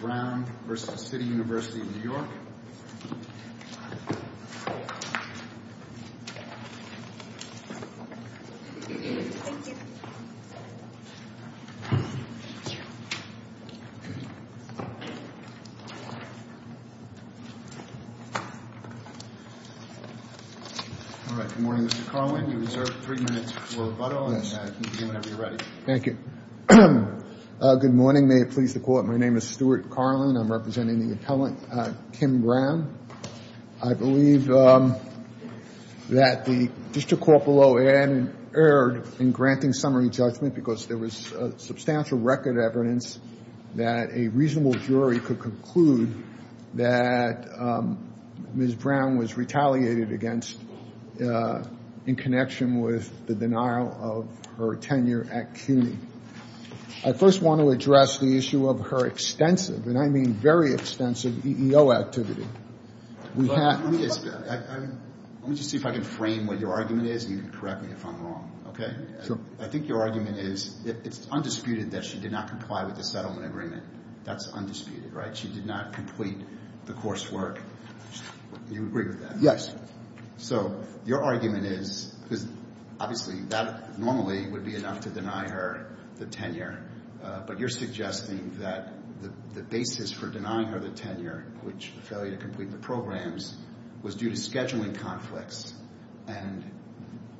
Good morning, Mr. Carlin. You have three minutes for rebuttal, and you can begin whenever you are ready. Thank you. Good morning. May it please the court, my name is Stuart Carlin. I'm representing the appellant, Kim Brown. I believe that the district court below Ann erred in granting summary judgment because there was substantial record evidence that a reasonable jury could conclude that Ms. Brown was retaliated against in connection with the denial of her tenure at CUNY. I first want to address the issue of her extensive, and I mean very extensive, EEO activity. Let me just see if I can frame what your argument is, and you can correct me if I'm wrong, okay? I think your argument is it's undisputed that she did not comply with the settlement agreement. That's undisputed, right? She did not complete the coursework. Do you agree with that? Yes. So your argument is, because obviously that normally would be enough to deny her the tenure, but you're suggesting that the basis for denying her the tenure, which the failure to complete the programs, was due to scheduling conflicts. And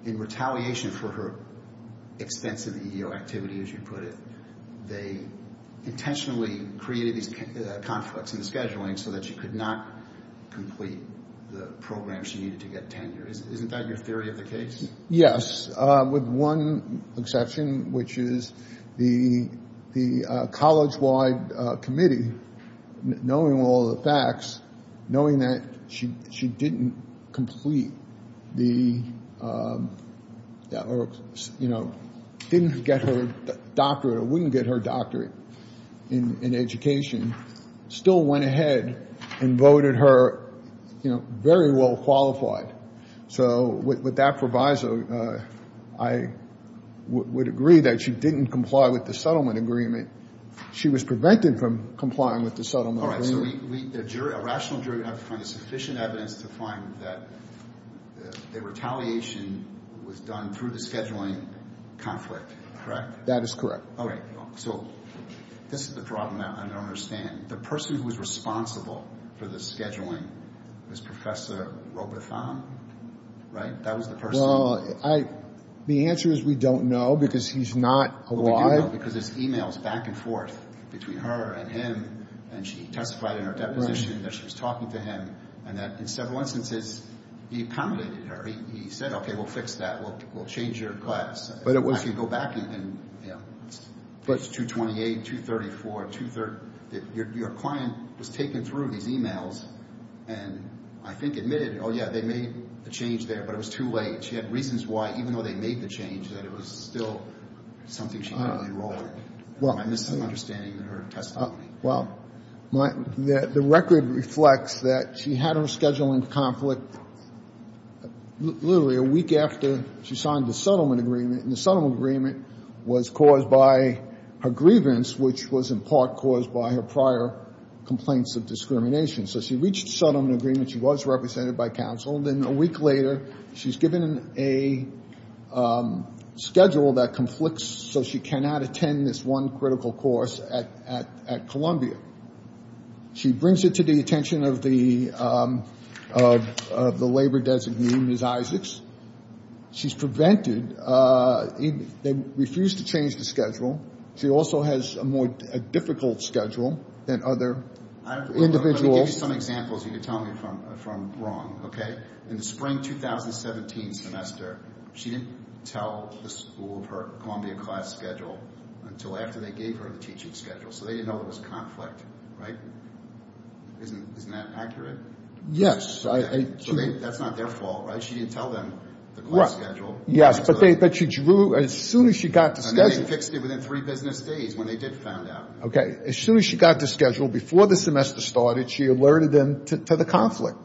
in retaliation for her extensive EEO activity, as you put it, they intentionally created these conflicts in the scheduling so that she could not complete the programs she needed to get tenure. Isn't that your theory of the case? Yes, with one exception, which is the college-wide committee, knowing all the facts, knowing that she didn't complete the, you know, didn't get her doctorate or wouldn't get her doctorate in education, still went ahead and voted her, you know, very well qualified. So with that proviso, I would agree that she didn't comply with the settlement agreement. She was prevented from complying with the settlement agreement. All right. So a rational jury would have to find sufficient evidence to find that the retaliation was done through the scheduling conflict, correct? That is correct. All right. So this is the problem that I don't understand. The person who was responsible for the scheduling was Professor Robotham, right? That was the person. Well, the answer is we don't know because he's not alive. Well, we do know because there's e-mails back and forth between her and him. And she testified in her deposition that she was talking to him and that in several instances he pounded her. He said, okay, we'll fix that. We'll change your class. I can go back and, you know, it's 228, 234, 230. Your client was taking through these e-mails and I think admitted, oh, yeah, they made the change there, but it was too late. She had reasons why, even though they made the change, that it was still something she had to enroll in. Am I misunderstanding her testimony? Well, the record reflects that she had her scheduling conflict literally a week after she signed the settlement agreement. And the settlement agreement was caused by her grievance, which was in part caused by her prior complaints of discrimination. So she reached settlement agreement. She was represented by counsel. Then a week later she's given a schedule that conflicts so she cannot attend this one critical course at Columbia. She brings it to the attention of the labor designee, Ms. Isaacs. She's prevented. They refuse to change the schedule. She also has a more difficult schedule than other individuals. Let me give you some examples you can tell me from wrong, okay? In the spring 2017 semester, she didn't tell the school of her Columbia class schedule until after they gave her the teaching schedule. So they didn't know there was conflict, right? Isn't that accurate? Yes. So that's not their fault, right? She didn't tell them the class schedule. Yes, but she drew as soon as she got to schedule. And then they fixed it within three business days when they did find out. Okay. As soon as she got to schedule, before the semester started, she alerted them to the conflict,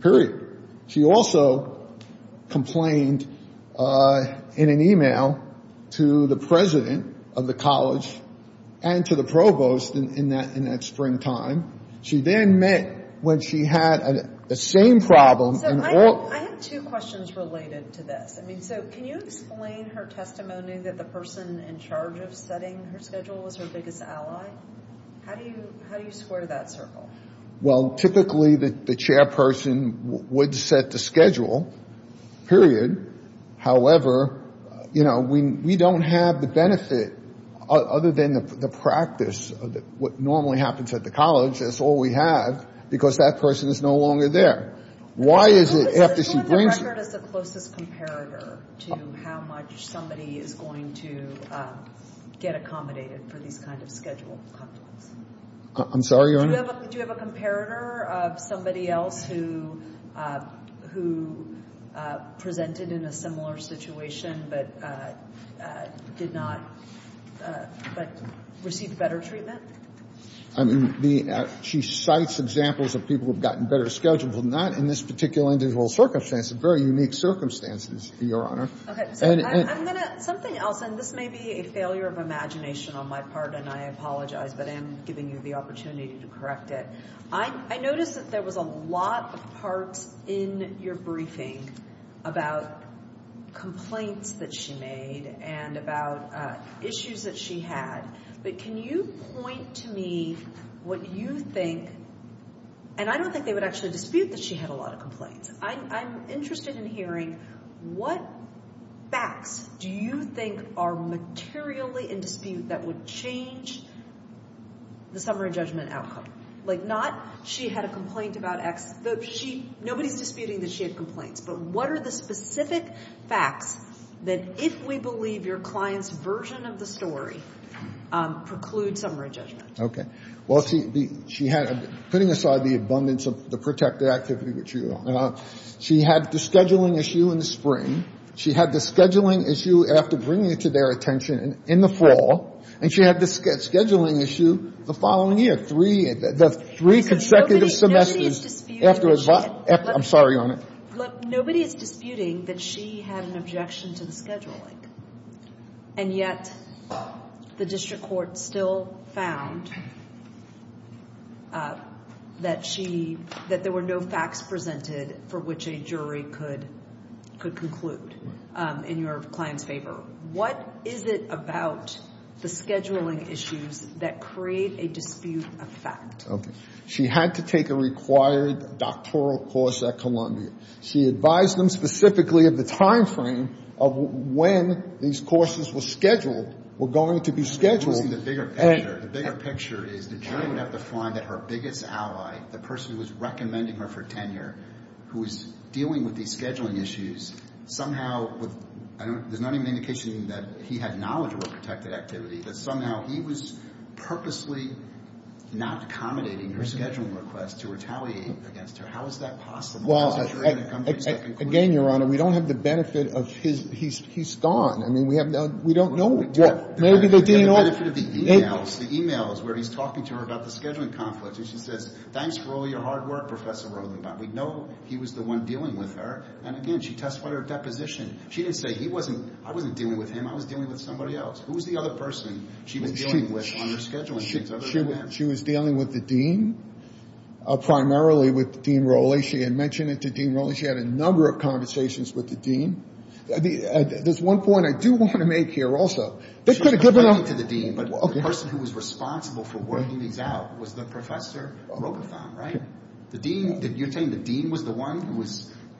period. She also complained in an e-mail to the president of the college and to the provost in that springtime. She then met when she had the same problem. So I have two questions related to this. I mean, so can you explain her testimony that the person in charge of setting her schedule was her biggest ally? How do you square that circle? Well, typically the chairperson would set the schedule, period. However, you know, we don't have the benefit other than the practice of what normally happens at the college. That's all we have because that person is no longer there. Why is it after she brings it? Isn't the record as the closest comparator to how much somebody is going to get accommodated for these kind of schedule conflicts? I'm sorry, Your Honor? Do you have a comparator of somebody else who presented in a similar situation but did not, but received better treatment? I mean, she cites examples of people who have gotten better schedules, but not in this particular individual circumstance. It's a very unique circumstance, Your Honor. Okay. Something else, and this may be a failure of imagination on my part, and I apologize, but I am giving you the opportunity to correct it. I noticed that there was a lot of parts in your briefing about complaints that she made and about issues that she had. But can you point to me what you think, and I don't think they would actually dispute that she had a lot of complaints. I'm interested in hearing what facts do you think are materially in dispute that would change the summary judgment outcome? Like, not she had a complaint about X. Nobody's disputing that she had complaints, but what are the specific facts that, if we believe your client's version of the story, preclude summary judgment? Okay. Well, she had, putting aside the abundance of the protected activity that you're on, she had the scheduling issue in the spring, she had the scheduling issue after bringing it to their attention in the fall, and she had the scheduling issue the following year, three consecutive semesters. Nobody's disputing that she had no complaints. I'm sorry, Your Honor. Look, nobody is disputing that she had an objection to the scheduling, and yet the district court still found that there were no facts presented for which a jury could conclude in your client's favor. What is it about the scheduling issues that create a dispute effect? Okay. She had to take a required doctoral course at Columbia. She advised them specifically of the timeframe of when these courses were scheduled, were going to be scheduled. The bigger picture is the jury would have to find that her biggest ally, the person who was recommending her for tenure, who was dealing with these scheduling issues, somehow, there's not even an indication that he had knowledge of her protected activity, that somehow he was purposely not accommodating her scheduling requests to retaliate against her. How is that possible? Well, again, Your Honor, we don't have the benefit of his ‑‑ he's gone. I mean, we don't know. The benefit of the e-mails, the e-mails where he's talking to her about the scheduling conflicts, and she says, thanks for all your hard work, Professor Rothenbaum. We know he was the one dealing with her. And again, she testified her deposition. She didn't say, I wasn't dealing with him. I was dealing with somebody else. Who was the other person she was dealing with on her scheduling issues other than him? She was dealing with the dean, primarily with Dean Rowley. She had mentioned it to Dean Rowley. She had a number of conversations with the dean. There's one point I do want to make here also. She was talking to the dean, but the person who was responsible for working these out was the Professor Rothenbaum, right? You're saying the dean was the one who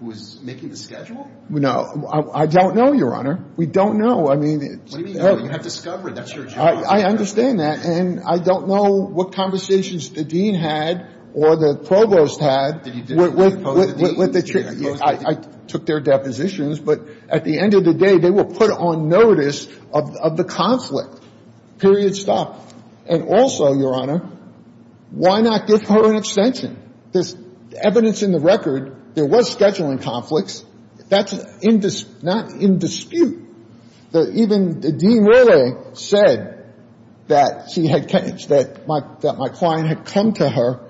was making the schedule? No. I don't know, Your Honor. We don't know. What do you mean, you don't know? You haven't discovered. That's your job. I understand that. And I don't know what conversations the dean had or the provost had with the chief. I took their depositions. But at the end of the day, they were put on notice of the conflict, period, stop. And also, Your Honor, why not give her an extension? There's evidence in the record there was scheduling conflicts. That's not in dispute. Even Dean Rowley said that my client had come to her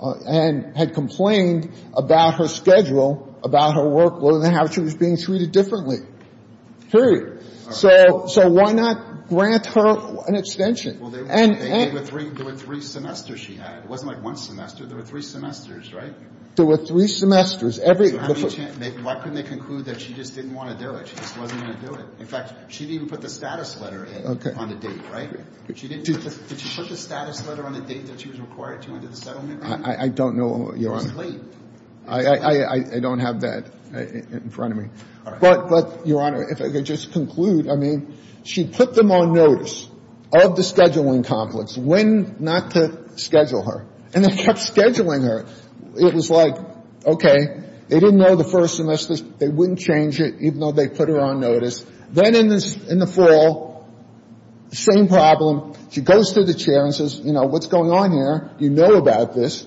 and had complained about her schedule, about her work, whether or not she was being treated differently, period. So why not grant her an extension? There were three semesters she had. It wasn't like one semester. There were three semesters, right? There were three semesters. Why couldn't they conclude that she just didn't want to do it? She just wasn't going to do it. In fact, she didn't even put the status letter on the date, right? Did she put the status letter on the date that she was required to under the settlement? I don't know, Your Honor. It was late. I don't have that in front of me. But, Your Honor, if I could just conclude, I mean, she put them on notice of the scheduling conflicts when not to schedule her. And they kept scheduling her. It was like, okay, they didn't know the first semester. They wouldn't change it even though they put her on notice. Then in the fall, same problem. She goes to the chair and says, you know, what's going on here? You know about this.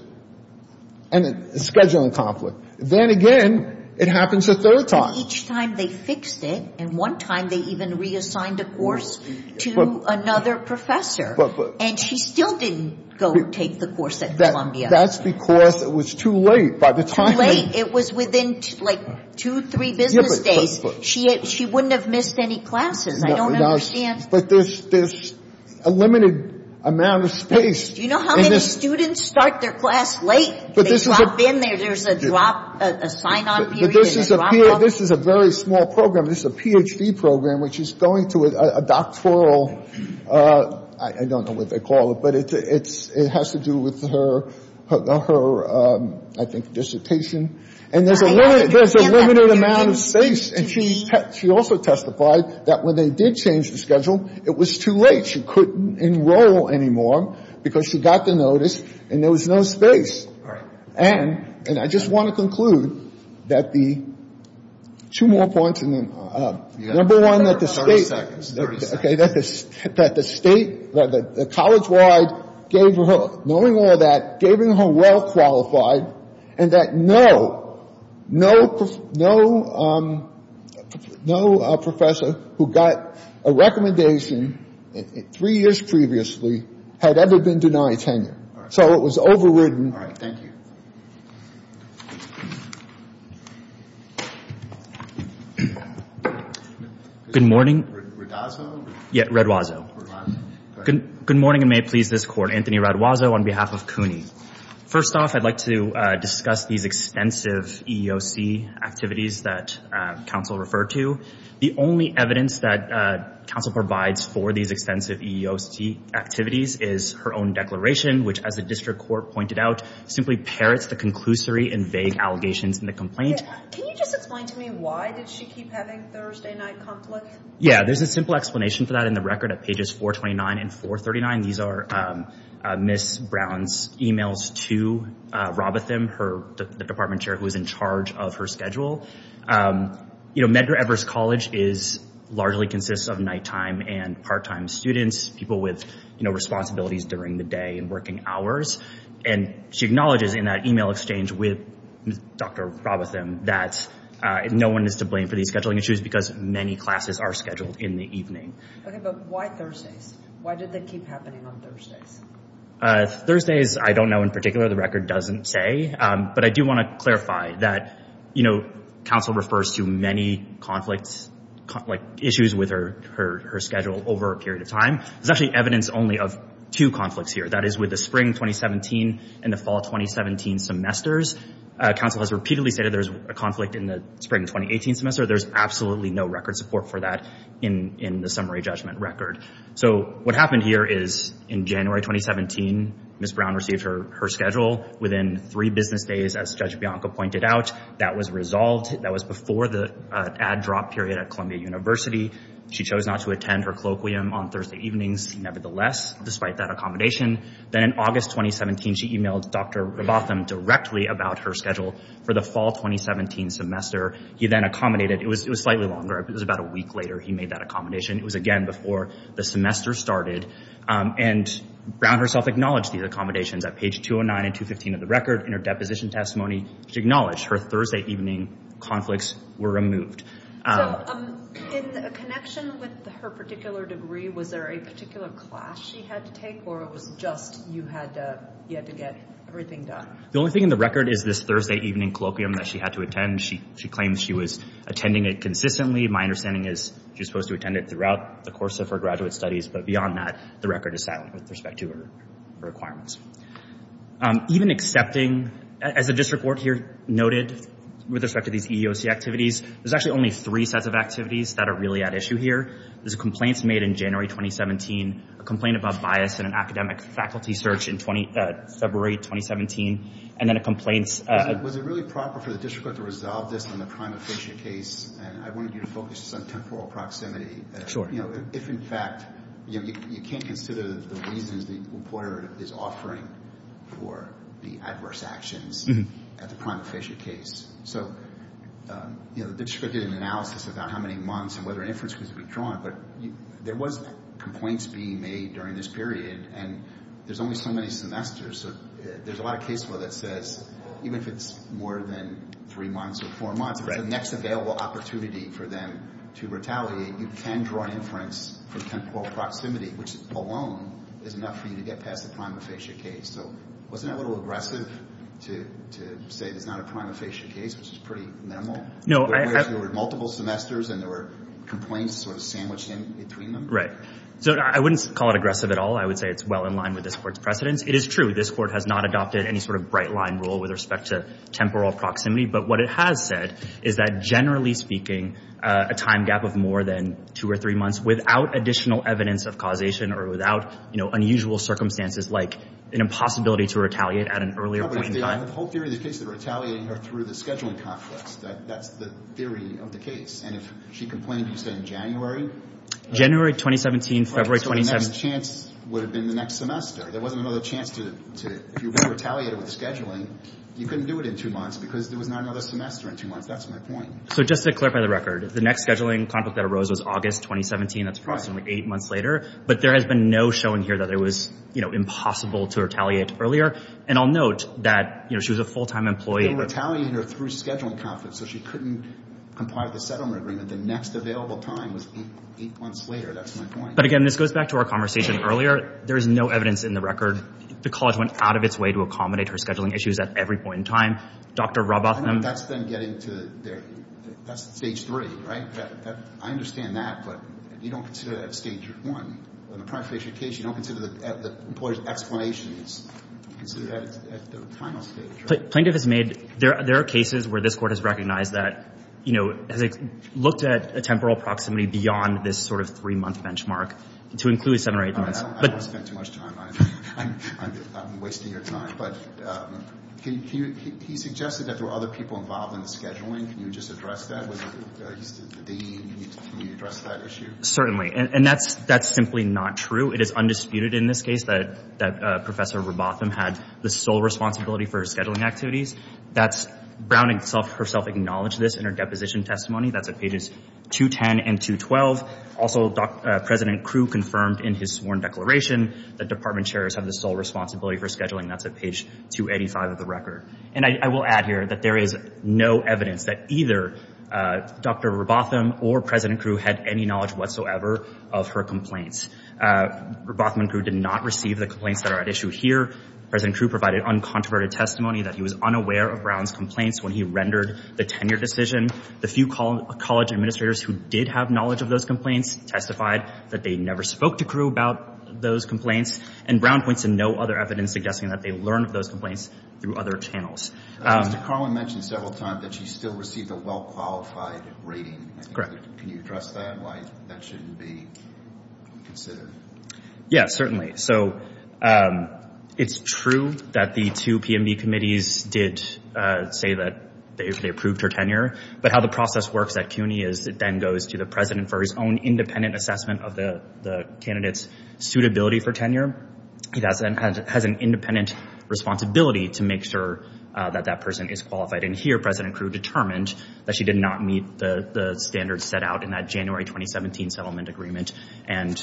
And a scheduling conflict. Then again, it happens a third time. Each time they fixed it. And one time they even reassigned a course to another professor. And she still didn't go take the course at Columbia. That's because it was too late. Too late? It was within, like, two, three business days. She wouldn't have missed any classes. I don't understand. But there's a limited amount of space. Do you know how many students start their class late? They drop in there. There's a sign-on period. This is a very small program. This is a Ph.D. program, which is going to a doctoral, I don't know what they call it, but it has to do with her, I think, dissertation. And there's a limited amount of space. And she also testified that when they did change the schedule, it was too late. She couldn't enroll anymore because she got the notice and there was no space. And I just want to conclude that the two more points. Number one, that the State. Thirty seconds. Okay. That the State, that the college-wide gave her, knowing all that, gave her well-qualified and that no, no professor who got a recommendation three years previously had ever been denied tenure. So it was overridden. All right. Thank you. Good morning. Radwazo? Yeah, Radwazo. Radwazo. Good morning, and may it please this Court. Anthony Radwazo on behalf of CUNY. First off, I'd like to discuss these extensive EEOC activities that counsel referred to. The only evidence that counsel provides for these extensive EEOC activities is her own declaration, which, as the District Court pointed out, simply parrots the conclusory and vague allegations in the complaint. Can you just explain to me why did she keep having Thursday night conflict? Yeah, there's a simple explanation for that in the record at pages 429 and 439. These are Ms. Brown's emails to Robatham, the department chair who was in charge of her schedule. You know, Medgar Evers College largely consists of nighttime and part-time students, people with responsibilities during the day and working hours. And she acknowledges in that email exchange with Dr. Robatham that no one is to blame for these scheduling issues because many classes are scheduled in the evening. Okay, but why Thursdays? Why did they keep happening on Thursdays? Thursdays, I don't know in particular. The record doesn't say. But I do want to clarify that, you know, counsel refers to many issues with her schedule over a period of time. There's actually evidence only of two conflicts here. That is, with the spring 2017 and the fall 2017 semesters, counsel has repeatedly stated there's a conflict in the spring 2018 semester. There's absolutely no record support for that in the summary judgment record. So what happened here is in January 2017, Ms. Brown received her schedule within three business days, as Judge Bianca pointed out. That was resolved. That was before the ad drop period at Columbia University. She chose not to attend her colloquium on Thursday evenings, nevertheless, despite that accommodation. Then in August 2017, she emailed Dr. Robatham directly about her schedule for the fall 2017 semester. He then accommodated. It was slightly longer. It was about a week later he made that accommodation. It was, again, before the semester started. And Brown herself acknowledged these accommodations at page 209 and 215 of the record in her deposition testimony. She acknowledged her Thursday evening conflicts were removed. So in connection with her particular degree, was there a particular class she had to take, or it was just you had to get everything done? The only thing in the record is this Thursday evening colloquium that she had to attend. She claimed she was attending it consistently. My understanding is she was supposed to attend it throughout the course of her graduate studies. But beyond that, the record is silent with respect to her requirements. Even accepting, as the district court here noted, with respect to these EEOC activities, there's actually only three sets of activities that are really at issue here. There's complaints made in January 2017, a complaint about bias in an academic faculty search in February 2017, and then a complaint. Was it really proper for the district court to resolve this on the prima facie case? And I wanted you to focus on temporal proximity. If, in fact, you can't consider the reasons the reporter is offering for the adverse actions at the prima facie case. So the district court did an analysis about how many months and whether an inference could be drawn. But there was complaints being made during this period, and there's only so many semesters. So there's a lot of case law that says even if it's more than three months or four months, if it's the next available opportunity for them to retaliate, you can draw an inference for temporal proximity, which alone is enough for you to get past the prima facie case. So wasn't that a little aggressive to say there's not a prima facie case, which is pretty minimal? There were multiple semesters, and there were complaints sort of sandwiched in between them? Right. So I wouldn't call it aggressive at all. I would say it's well in line with this court's precedence. It is true this court has not adopted any sort of bright-line rule with respect to temporal proximity. But what it has said is that, generally speaking, a time gap of more than two or three months without additional evidence of causation or without, you know, unusual circumstances like an impossibility to retaliate at an earlier point in time. But the whole theory of the case is retaliating her through the scheduling complex. That's the theory of the case. And if she complained, you say in January? January 2017, February 2017. Then the chance would have been the next semester. There wasn't another chance to retaliate with the scheduling. You couldn't do it in two months because there was not another semester in two months. That's my point. So just to clarify the record, the next scheduling conflict that arose was August 2017. That's approximately eight months later. But there has been no showing here that it was, you know, impossible to retaliate earlier. And I'll note that, you know, she was a full-time employee. They retaliated her through scheduling conflict, so she couldn't comply with the settlement agreement. The next available time was eight months later. That's my point. But, again, this goes back to our conversation earlier. There is no evidence in the record. The college went out of its way to accommodate her scheduling issues at every point in time. Dr. Robotham— I know that's been getting to their—that's stage three, right? I understand that, but you don't consider that stage one. In the prior phase of your case, you don't consider the employee's explanations. You consider that at the final stage, right? Plaintiff has made—there are cases where this Court has recognized that, you know, has looked at a temporal proximity beyond this sort of three-month benchmark to include seven or eight months. I don't want to spend too much time on it. I'm wasting your time. But he suggested that there were other people involved in the scheduling. Can you just address that? Was it the dean? Can you address that issue? Certainly. And that's simply not true. It is undisputed in this case that Professor Robotham had the sole responsibility for her scheduling activities. That's—Brown herself acknowledged this in her deposition testimony. That's at pages 210 and 212. Also, President Crew confirmed in his sworn declaration that department chairs have the sole responsibility for scheduling. That's at page 285 of the record. And I will add here that there is no evidence that either Dr. Robotham or President Crew had any knowledge whatsoever of her complaints. Robotham and Crew did not receive the complaints that are at issue here. President Crew provided uncontroverted testimony that he was unaware of Brown's complaints when he rendered the tenure decision. The few college administrators who did have knowledge of those complaints testified that they never spoke to Crew about those complaints. And Brown points to no other evidence suggesting that they learned of those complaints through other channels. Mr. Carlin mentioned several times that she still received a well-qualified rating. Correct. Can you address that? Why that shouldn't be considered? Yes, certainly. So, it's true that the two PMV committees did say that they approved her tenure. But how the process works at CUNY is it then goes to the president for his own independent assessment of the candidate's suitability for tenure. He has an independent responsibility to make sure that that person is qualified. And here, President Crew determined that she did not meet the standards set out in that January 2017 settlement agreement. And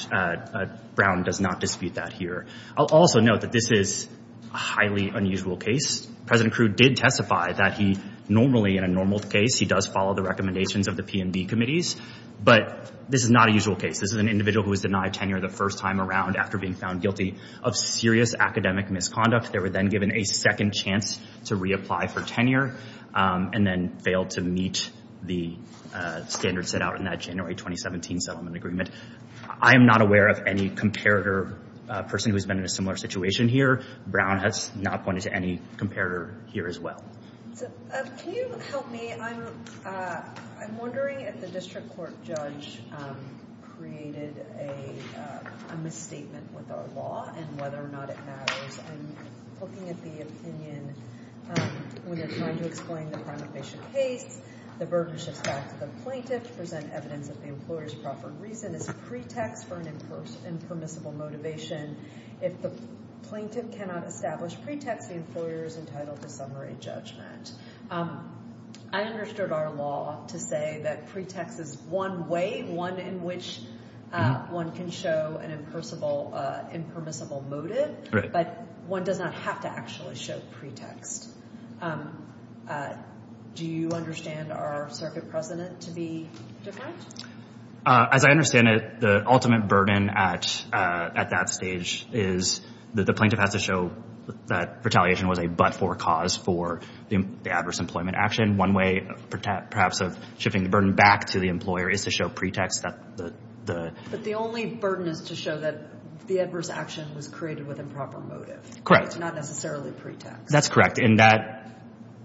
Brown does not dispute that here. I'll also note that this is a highly unusual case. President Crew did testify that he normally, in a normal case, he does follow the recommendations of the PMV committees. But this is not a usual case. This is an individual who was denied tenure the first time around after being found guilty of serious academic misconduct. They were then given a second chance to reapply for tenure and then failed to meet the standards set out in that January 2017 settlement agreement. I am not aware of any comparator person who's been in a similar situation here. Brown has not pointed to any comparator here as well. Can you help me? I'm wondering if the district court judge created a misstatement with our law and whether or not it matters. I'm looking at the opinion when they're trying to explain the prima facie case. The burden shifts back to the plaintiff to present evidence of the employer's proffered reason as a pretext for an impermissible motivation. If the plaintiff cannot establish pretext, the employer is entitled to summary judgment. I understood our law to say that pretext is one way, one in which one can show an impermissible motive, but one does not have to actually show pretext. Do you understand our circuit precedent to be different? As I understand it, the ultimate burden at that stage is that the plaintiff has to show that retaliation was a but-for cause for the adverse employment action. One way, perhaps, of shifting the burden back to the employer is to show pretext. But the only burden is to show that the adverse action was created with improper motive. Correct. Not necessarily pretext. That's correct. And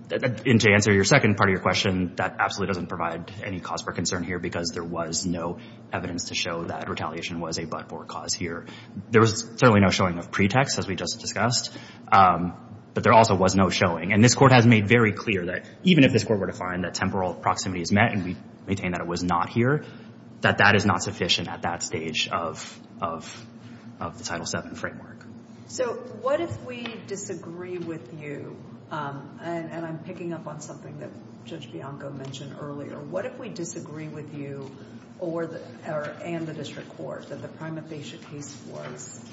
to answer your second part of your question, that absolutely doesn't provide any cause for concern here because there was no evidence to show that retaliation was a but-for cause here. There was certainly no showing of pretext, as we just discussed, but there also was no showing. And this Court has made very clear that even if this Court were to find that temporal proximity is met and we maintain that it was not here, that that is not sufficient at that stage of the Title VII framework. So what if we disagree with you? And I'm picking up on something that Judge Bianco mentioned earlier. What if we disagree with you and the district court that the prima facie case was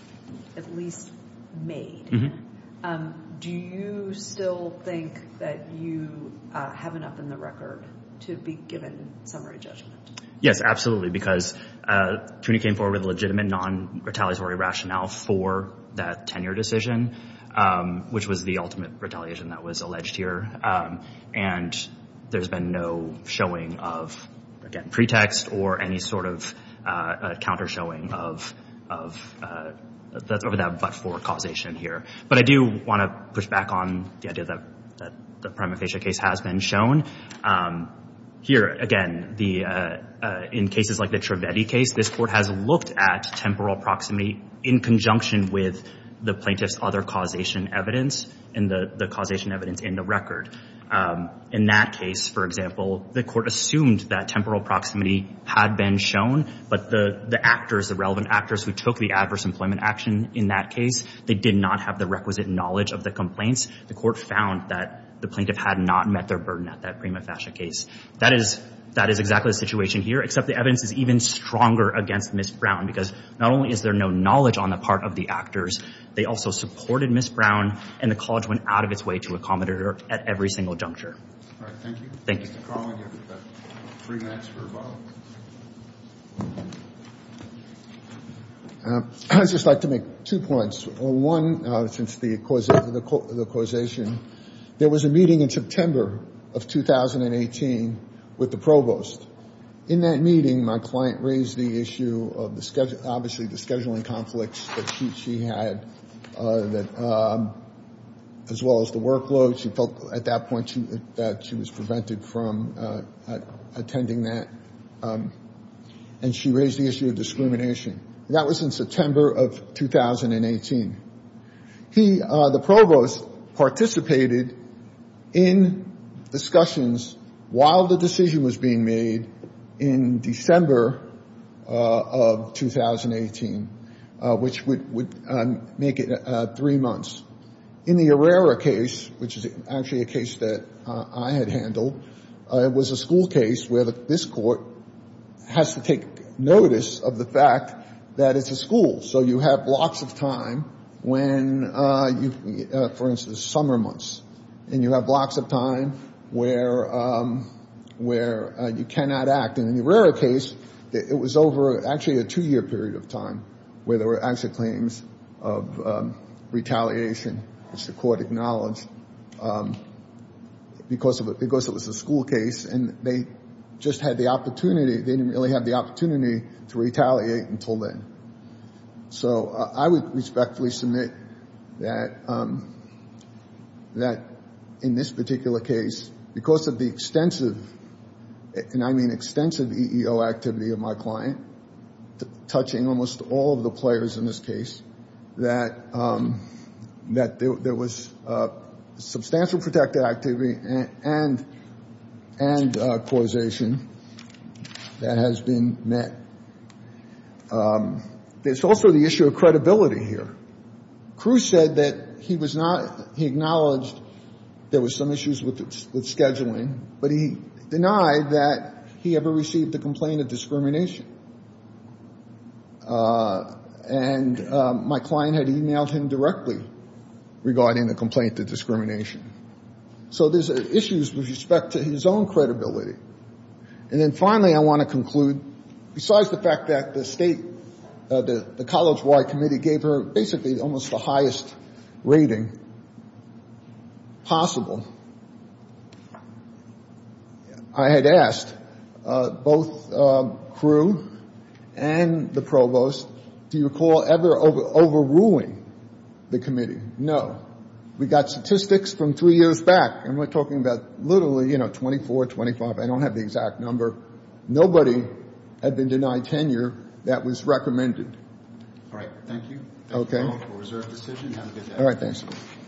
at least made? Do you still think that you have enough in the record to be given summary judgment? Yes, absolutely, because CUNY came forward with a legitimate non-retaliatory rationale for that tenure decision, which was the ultimate retaliation that was alleged here. And there's been no showing of, again, pretext or any sort of counter showing of that but-for causation here. But I do want to push back on the idea that the prima facie case has been shown. Here, again, in cases like the Trivedi case, this Court has looked at temporal proximity in conjunction with the plaintiff's other causation evidence and the causation evidence in the record. In that case, for example, the Court assumed that temporal proximity had been shown, but the actors, the relevant actors who took the adverse employment action in that case, they did not have the requisite knowledge of the complaints. The Court found that the plaintiff had not met their burden at that prima facie case. That is exactly the situation here, except the evidence is even stronger against Ms. Brown, because not only is there no knowledge on the part of the actors, they also supported Ms. Brown, and the College went out of its way to accommodate her at every single juncture. All right, thank you. Thank you. Mr. Carlin, you have three minutes for a vote. I'd just like to make two points. One, since the causation, there was a meeting in September of 2018 with the provost. In that meeting, my client raised the issue of, obviously, the scheduling conflicts that she had, as well as the workload. She felt at that point that she was prevented from attending that, and she raised the issue of discrimination. That was in September of 2018. He, the provost, participated in discussions while the decision was being made in December of 2018, which would make it three months. In the Herrera case, which is actually a case that I had handled, it was a school case where this court has to take notice of the fact that it's a school. So you have blocks of time when, for instance, summer months, and you have blocks of time where you cannot act. And in the Herrera case, it was over actually a two-year period of time where there were actual claims of retaliation, which the court acknowledged, because it was a school case, and they just had the opportunity. They didn't really have the opportunity to retaliate until then. So I would respectfully submit that in this particular case, because of the extensive, and I mean extensive, EEO activity of my client, touching almost all of the players in this case, that there was substantial protective activity and causation that has been met. There's also the issue of credibility here. Cruz said that he acknowledged there was some issues with scheduling, but he denied that he ever received a complaint of discrimination. And my client had emailed him directly regarding the complaint of discrimination. So there's issues with respect to his own credibility. And then finally, I want to conclude, besides the fact that the state, the college-wide committee gave her basically almost the highest rating possible, I had asked both Cruz and the provost, do you recall ever overruling the committee? No. We got statistics from three years back, and we're talking about literally, you know, 24, 25. I don't have the exact number. Nobody had been denied tenure that was recommended. All right. Thank you. Thank you all for a reserved decision. Have a good day. All right. Thanks.